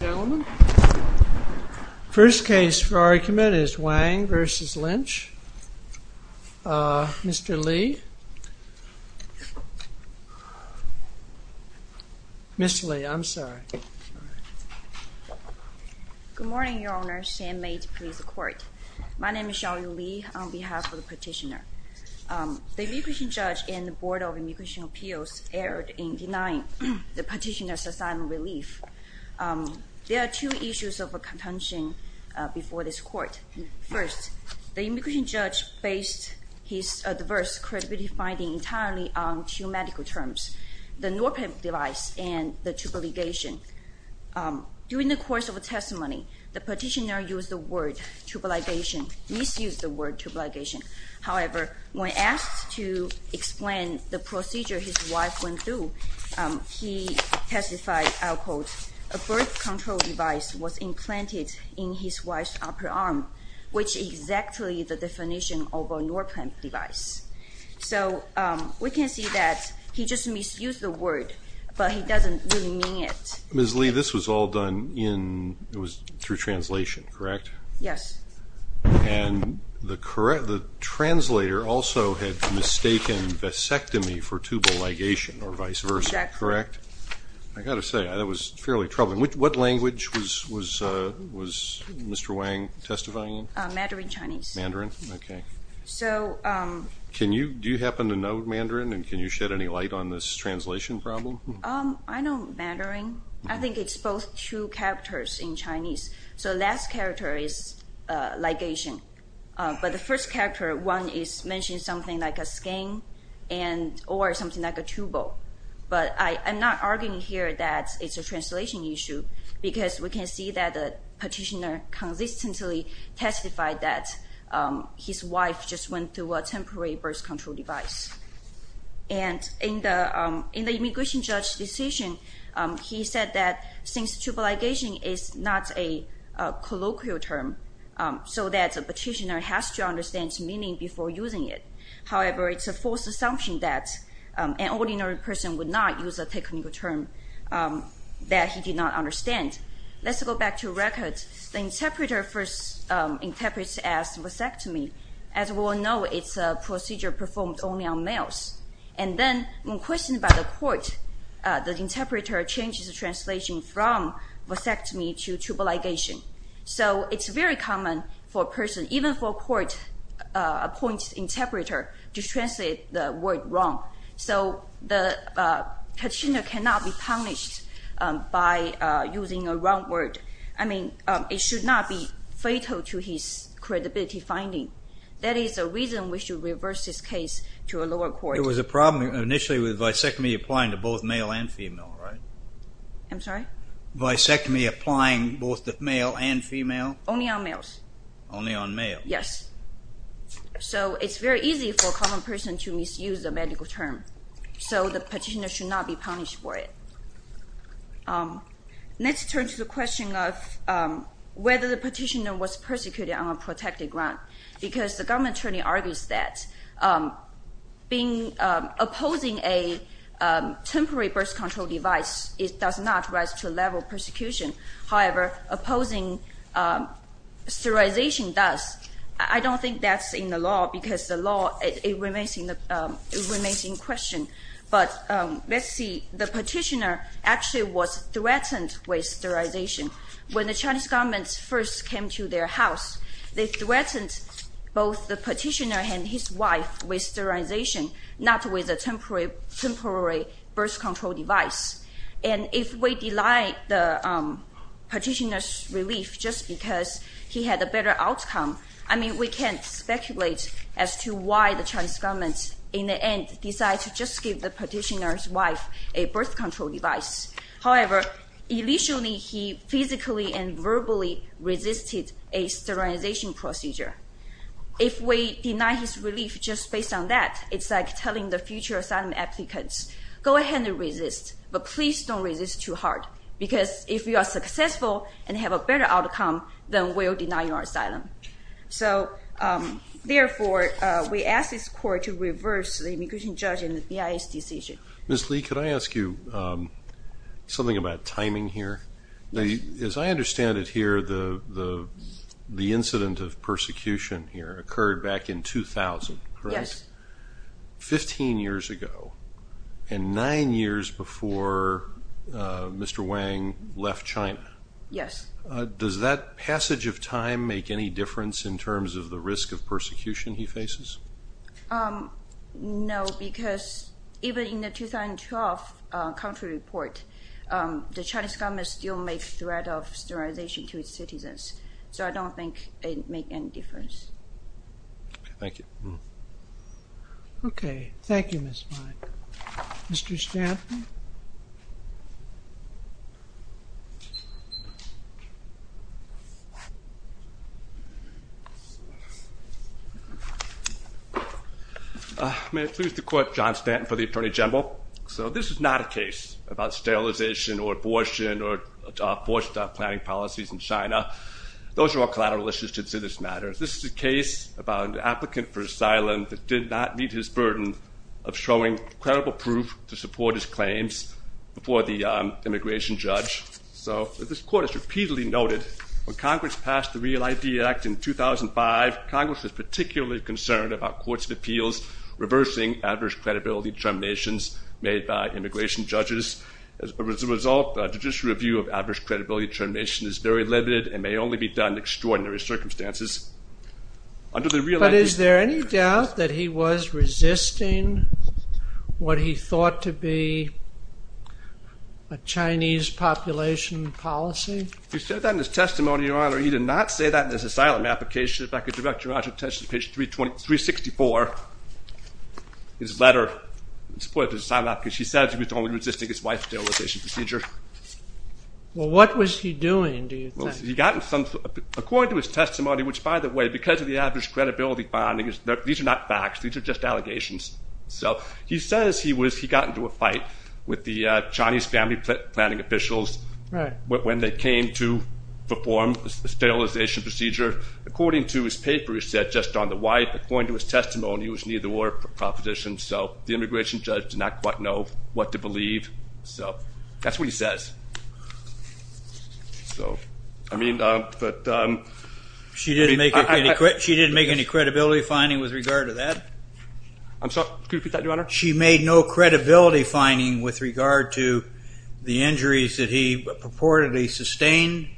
Ladies and gentlemen, the first case for argument is Wang v. Lynch. Mr. Li, Mr. Li, I'm sorry. Good morning, Your Honor, San Mate Police Court. My name is Xiaoyu Li on behalf of the petitioner. The immigration judge and the Board of Immigration Appeals erred in denying the petitioner's assignment of relief. There are two issues of contention before this court. First, the immigration judge based his adverse credibility finding entirely on two medical terms, the Norpe device and the tubal ligation. During the course of the testimony, the petitioner used the word tubal ligation, misused the word tubal ligation. However, when asked to explain the procedure his wife went through, he testified, I'll quote, a birth control device was implanted in his wife's upper arm, which is exactly the definition of a Norpe device. So we can see that he just misused the word, but he doesn't really mean it. Ms. Li, this was all done in – it was through translation, correct? Yes. And the correct – the translator also had mistaken vasectomy for tubal ligation or vice versa, correct? Exactly. I've got to say, that was fairly troubling. What language was Mr. Wang testifying in? Mandarin Chinese. Mandarin, okay. So – Can you – do you happen to know Mandarin and can you shed any light on this translation problem? I know Mandarin. I think it's both two characters in Chinese. So the last character is ligation. But the first character, Wang, is mentioning something like a skin and – or something like a tubal. But I'm not arguing here that it's a translation issue because we can see that the petitioner consistently testified that his wife just went through a temporary birth control device. And in the immigration judge's decision, he said that since tubal ligation is not a colloquial term, so that the petitioner has to understand the meaning before using it. However, it's a false assumption that an ordinary person would not use a technical term that he did not understand. Let's go back to records. The interpreter first interprets as vasectomy. As we all know, it's a procedure performed only on males. And then when questioned by the court, the interpreter changes the translation from vasectomy to tubal ligation. So it's very common for a person, even for a court-appointed interpreter, to translate the word wrong. So the petitioner cannot be punished by using a wrong word. I mean, it should not be fatal to his credibility finding. That is the reason we should reverse this case to a lower court. It was a problem initially with vasectomy applying to both male and female, right? I'm sorry? Vasectomy applying both to male and female? Only on males. Only on males. Yes. So it's very easy for a common person to misuse a medical term. So the petitioner should not be punished for it. Let's turn to the question of whether the petitioner was persecuted on a protected ground. Because the government attorney argues that opposing a temporary birth control device does not rise to the level of persecution. However, opposing sterilization does. I don't think that's in the law because the law remains in question. But let's see, the petitioner actually was threatened with sterilization. When the Chinese government first came to their house, they threatened both the petitioner and his wife with sterilization, not with a temporary birth control device. And if we deny the petitioner's relief just because he had a better outcome, I mean, we can't speculate as to why the Chinese government in the end decided to just give the petitioner's wife a birth control device. However, initially he physically and verbally resisted a sterilization procedure. If we deny his relief just based on that, it's like telling the future asylum applicants, go ahead and resist, but please don't resist too hard. Because if you are successful and have a better outcome, then we'll deny your asylum. So therefore, we ask this court to reverse the immigration judge and the BIA's decision. Ms. Li, could I ask you something about timing here? As I understand it here, the incident of persecution here occurred back in 2000, correct? Yes. Fifteen years ago, and nine years before Mr. Wang left China. Yes. Does that passage of time make any difference in terms of the risk of persecution he faces? No, because even in the 2012 country report, the Chinese government still made threat of sterilization to its citizens. So I don't think it make any difference. Thank you. Okay. Thank you, Ms. Li. Mr. Stanton? May I please the court, John Stanton for the Attorney General. So this is not a case about sterilization or abortion or forced planning policies in China. Those are all collateral issues to this matter. This is a case about an applicant for asylum that did not meet his burden of showing credible proof to support his claims before the immigration judge. So this court has repeatedly noted when Congress passed the Real ID Act in 2005, Congress was particularly concerned about courts of appeals reversing adverse credibility determinations made by immigration judges. As a result, judicial review of adverse credibility determination is very limited and may only be done in extraordinary circumstances. But is there any doubt that he was resisting what he thought to be a Chinese population policy? He said that in his testimony, Your Honor. He did not say that in his asylum application. If I could direct Your Honor's attention to page 364, his letter in support of his asylum application. He said he was only resisting his wife's sterilization procedure. Well, what was he doing, do you think? According to his testimony, which by the way, because of the adverse credibility finding, these are not facts. These are just allegations. So he says he got into a fight with the Chinese family planning officials when they came to perform the sterilization procedure. According to his paper, he said just on the wife, according to his testimony, it was neither or proposition. So the immigration judge did not quite know what to believe. So that's what he says. So, I mean, but. She didn't make any credibility finding with regard to that? I'm sorry, could you repeat that, Your Honor? She made no credibility finding with regard to the injuries that he purportedly sustained?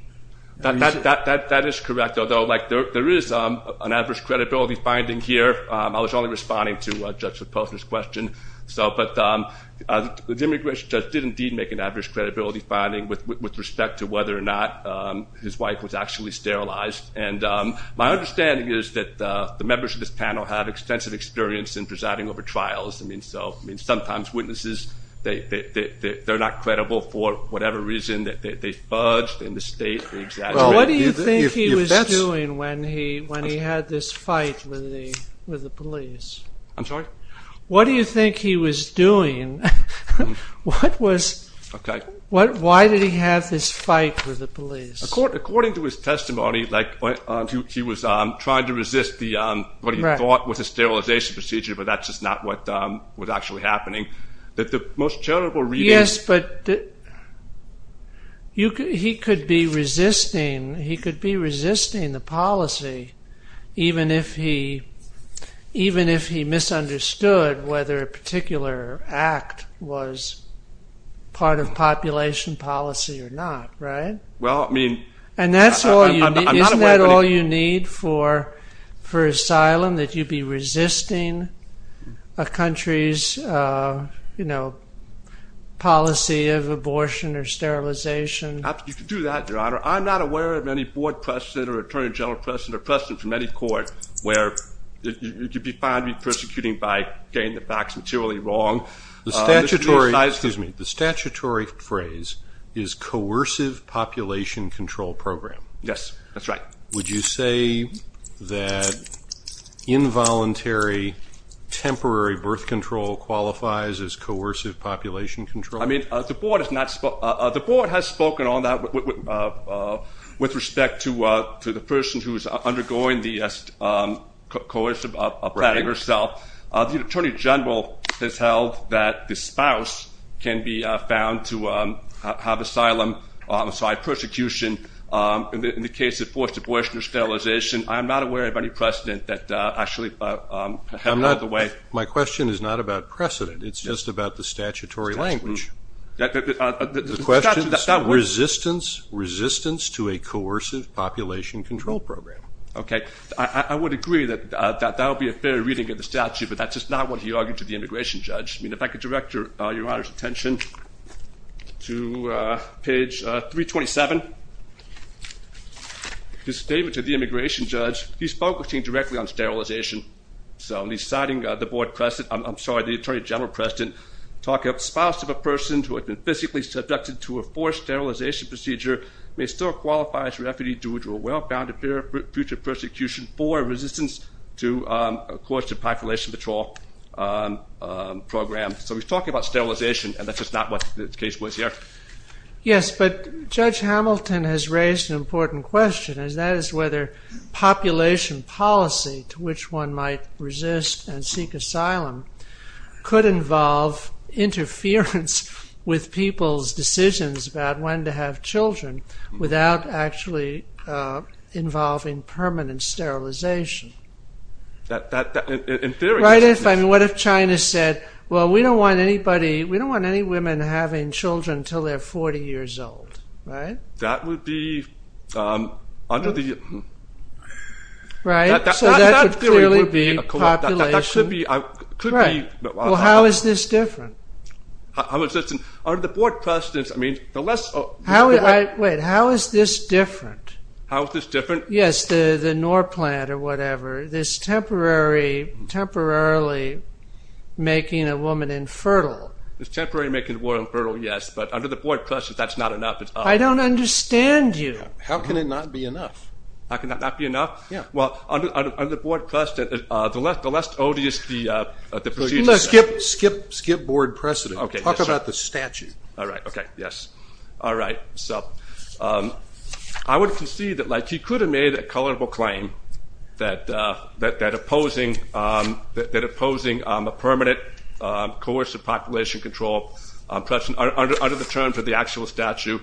That is correct, although there is an adverse credibility finding here. I was only responding to Judge Lepofsky's question. But the immigration judge did indeed make an adverse credibility finding with respect to whether or not his wife was actually sterilized. And my understanding is that the members of this panel have extensive experience in presiding over trials. I mean, so sometimes witnesses, they're not credible for whatever reason. They fudge, they mistake, they exaggerate. What do you think he was doing when he had this fight with the police? I'm sorry? What do you think he was doing? Why did he have this fight with the police? According to his testimony, he was trying to resist what he thought was a sterilization procedure. But that's just not what was actually happening. Yes, but he could be resisting the policy even if he misunderstood whether a particular act was part of population policy or not, right? And isn't that all you need for asylum? That you be resisting a country's policy of abortion or sterilization? You could do that, Your Honor. I'm not aware of any board precedent or attorney general precedent or precedent from any court where you could be found to be persecuting by getting the facts materially wrong. The statutory phrase is coercive population control program. Yes, that's right. Would you say that involuntary temporary birth control qualifies as coercive population control? I mean, the board has spoken on that with respect to the person who is undergoing the coercive planning herself. The attorney general has held that the spouse can be found to have asylum on the side of persecution in the case of forced abortion or sterilization. I'm not aware of any precedent that actually has gone out of the way. My question is not about precedent. It's just about the statutory language. The question is resistance to a coercive population control program. Okay. I would agree that that would be a fair reading of the statute, but that's just not what he argued to the immigration judge. I mean, if I could direct Your Honor's attention to page 327, his statement to the immigration judge, he's focusing directly on sterilization. So he's citing the board precedent. I'm sorry, the attorney general precedent. Talking about the spouse of a person who had been physically subducted to a forced sterilization procedure may still qualify as refugee due to a well-founded future persecution for resistance to a coercive population control program. So he's talking about sterilization, and that's just not what the case was here. Yes, but Judge Hamilton has raised an important question, and that is whether population policy to which one might resist and seek asylum could involve interference with people's decisions about when to have children without actually involving permanent sterilization. In theory. What if China said, well, we don't want any women having children until they're 40 years old, right? That would be under the... Right, so that would clearly be population... Well, how is this different? Under the board precedents, I mean, the less... Wait, how is this different? How is this different? Yes, the NOR plant or whatever, this temporarily making a woman infertile. This temporarily making a woman infertile, yes, but under the board precedent, that's not enough. I don't understand you. How can it not be enough? How can that not be enough? Yeah. Well, under the board precedent, the less odious the procedure... Skip board precedent. Talk about the statute. All right, okay, yes. All right, so I would concede that he could have made a colorable claim that opposing a permanent coercive population control under the terms of the actual statute,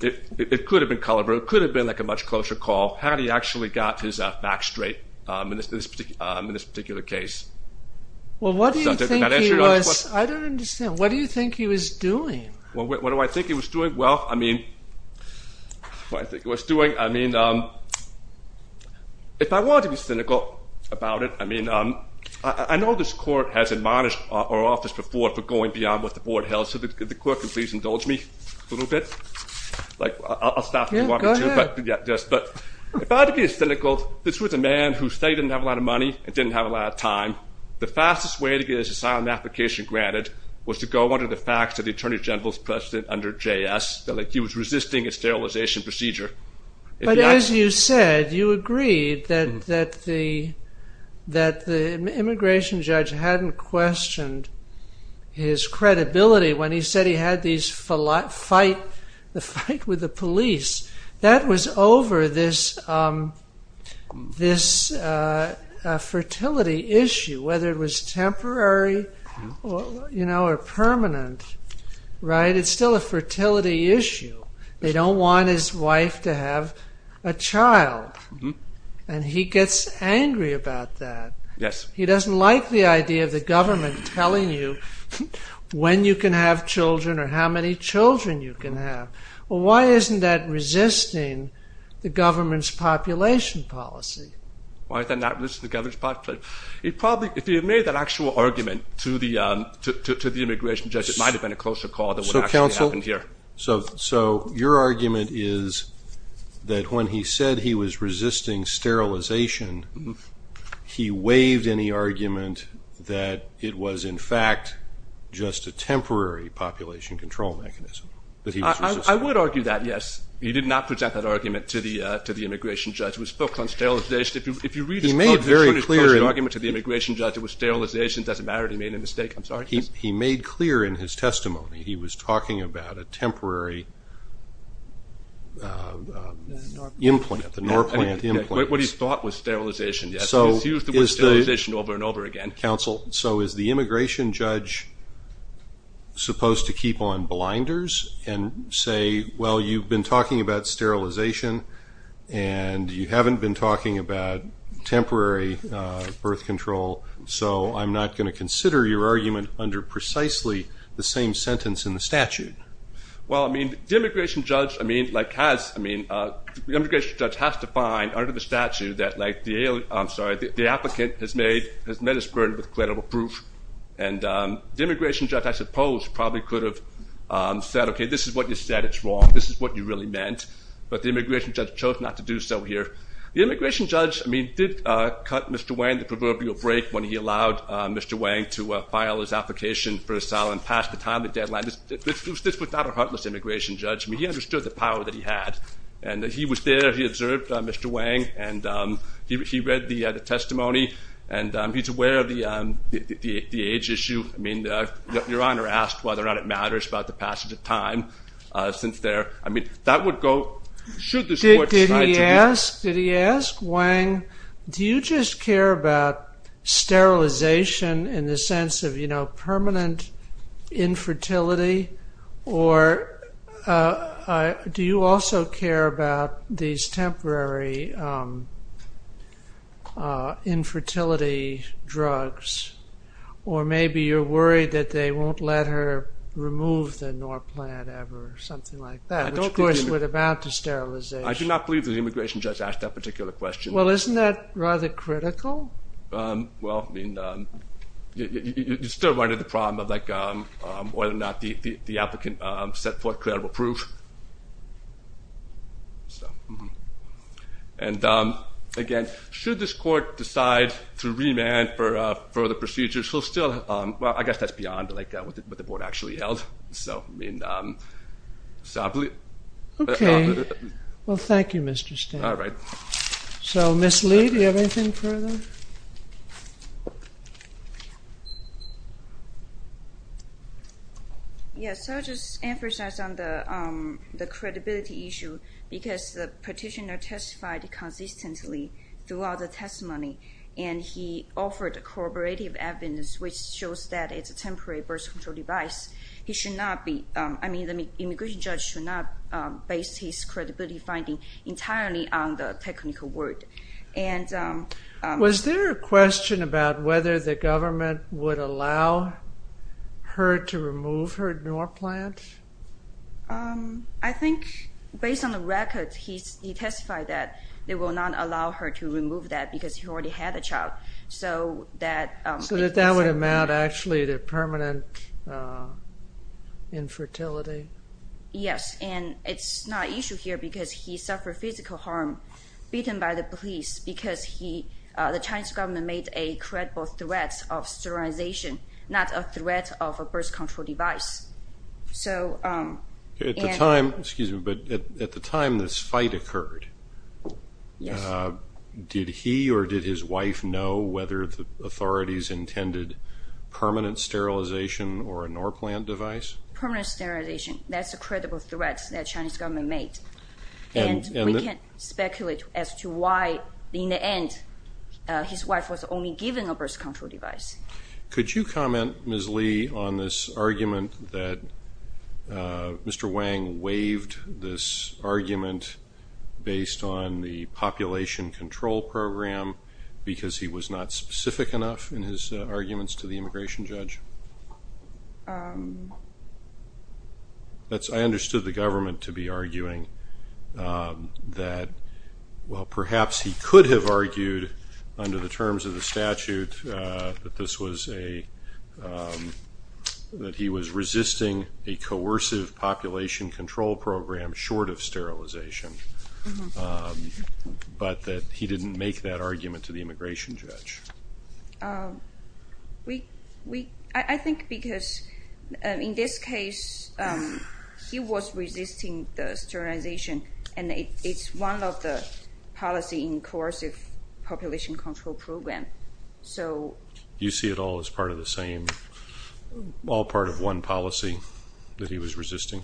it could have been colorable. It could have been like a much closer call had he actually got his back straight in this particular case. Well, what do you think he was... I don't understand. What do you think he was doing? What do I think he was doing? Well, I mean, what I think he was doing, I mean, if I wanted to be cynical about it, I mean, I know this court has admonished our office before for going beyond what the board held, so the clerk can please indulge me a little bit. Like, I'll stop if you want me to. Yeah, go ahead. But if I had to be cynical, this was a man who stated he didn't have a lot of money and didn't have a lot of time. The fastest way to get his asylum application granted was to go under the facts of the Attorney General's precedent under JS that he was resisting a sterilization procedure. But as you said, you agreed that the immigration judge hadn't questioned his credibility when he said he had this fight with the police. That was over this fertility issue, whether it was temporary or permanent, right? It's still a fertility issue. They don't want his wife to have a child. And he gets angry about that. Yes. He doesn't like the idea of the government telling you when you can have children or how many children you can have. Well, why isn't that resisting the government's population policy? Why is that not resisting the government's policy? He probably, if he had made that actual argument to the immigration judge, it might have been a closer call than what actually happened here. So your argument is that when he said he was resisting sterilization, he waived any argument that it was, in fact, just a temporary population control mechanism. I would argue that, yes. He did not present that argument to the immigration judge. It was focused on sterilization. If you read his closing argument to the immigration judge, it was sterilization. It doesn't matter. He made a mistake. I'm sorry. He made clear in his testimony he was talking about a temporary implant, the Norplant implant. What he thought was sterilization, yes. It was used to be sterilization over and over again. Counsel, so is the immigration judge supposed to keep on blinders and say, well, you've been talking about sterilization and you haven't been talking about temporary birth control, so I'm not going to consider your argument under precisely the same sentence in the statute? Well, I mean, the immigration judge has to find under the statute that the applicant has met his burden with credible proof. And the immigration judge, I suppose, probably could have said, okay, this is what you said. It's wrong. This is what you really meant. But the immigration judge chose not to do so here. The immigration judge, I mean, did cut Mr. Wang the proverbial break when he allowed Mr. Wang to file his application for asylum past the timely deadline. This was not a heartless immigration judge. I mean, he understood the power that he had. And he was there. He observed Mr. Wang. And he read the testimony. And he's aware of the age issue. I mean, Your Honor asked whether or not it matters about the passage of time since there. Did he ask? Did he ask? Wang, do you just care about sterilization in the sense of permanent infertility? Or do you also care about these temporary infertility drugs? Or maybe you're worried that they won't let her remove the Norplant ever or something like that, which of course would amount to sterilization. I do not believe that the immigration judge asked that particular question. Well, isn't that rather critical? Well, I mean, you still run into the problem of whether or not the applicant set forth credible proof. And, again, should this court decide to remand for further procedures, he'll still – well, I guess that's beyond, like, what the board actually held. So, I mean, so I believe – Okay. Well, thank you, Mr. Stanton. All right. So, Ms. Lee, do you have anything further? Yes, I'll just emphasize on the credibility issue because the petitioner testified consistently throughout the testimony, and he offered a corroborative evidence, which shows that it's a temporary birth control device. He should not be – I mean, the immigration judge should not base his credibility finding entirely on the technical word. Was there a question about whether the government would allow her to remove her door plant? I think, based on the record, he testified that they will not allow her to remove that because she already had a child. So that – So that that would amount actually to permanent infertility? Yes. And it's not an issue here because he suffered physical harm, beaten by the police, because he – the Chinese government made a credible threat of sterilization, not a threat of a birth control device. So – At the time – excuse me, but at the time this fight occurred, did he or did his wife know whether the authorities intended permanent sterilization or a door plant device? Permanent sterilization, that's a credible threat that the Chinese government made. And we can't speculate as to why, in the end, his wife was only given a birth control device. Could you comment, Ms. Li, on this argument that Mr. Wang waived this argument based on the population control program because he was not specific enough in his arguments to the immigration judge? That's – I understood the government to be arguing that, well, perhaps he could have argued under the terms of the statute that this was a – that he was resisting a coercive population control program short of sterilization, but that he didn't make that argument to the immigration judge. We – I think because in this case, he was resisting the sterilization, and it's one of the policy in coercive population control program. So – You see it all as part of the same – all part of one policy that he was resisting?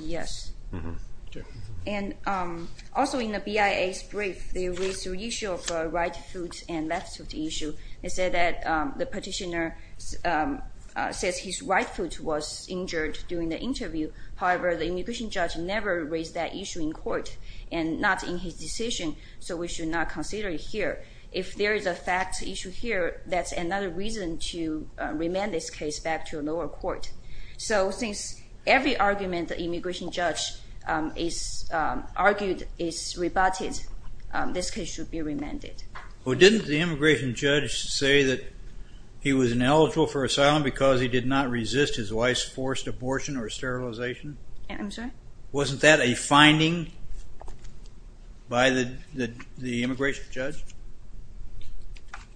Yes. Okay. And also in the BIA's brief, they raised the issue of right foot and left foot issue. They said that the petitioner says his right foot was injured during the interview. However, the immigration judge never raised that issue in court and not in his decision, so we should not consider it here. If there is a fact issue here, that's another reason to remand this case back to a lower court. So since every argument the immigration judge argued is rebutted, this case should be remanded. Well, didn't the immigration judge say that he was ineligible for asylum because he did not resist his wife's forced abortion or sterilization? I'm sorry? Wasn't that a finding by the immigration judge?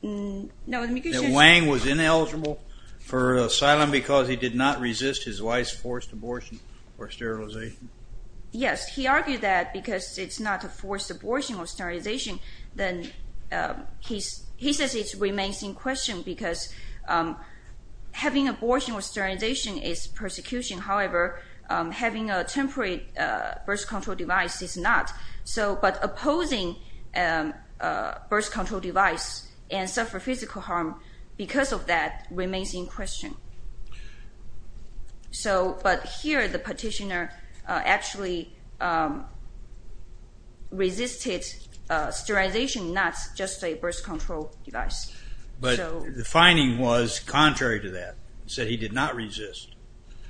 No, the immigration judge – Yes. He argued that because it's not a forced abortion or sterilization, then he says it remains in question because having abortion or sterilization is persecution. However, having a temporary birth control device is not. But opposing a birth control device and suffer physical harm because of that remains in question. But here the petitioner actually resisted sterilization, not just a birth control device. But the finding was contrary to that. He said he did not resist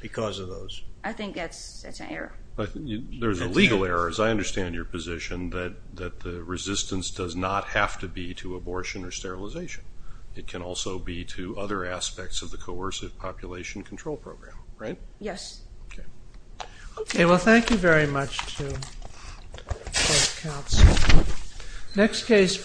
because of those. I think that's an error. There's a legal error, as I understand your position, that the resistance does not have to be to abortion or sterilization. It can also be to other aspects of the coercive population control program. Right? Yes. Okay. Well, thank you very much to both counselors.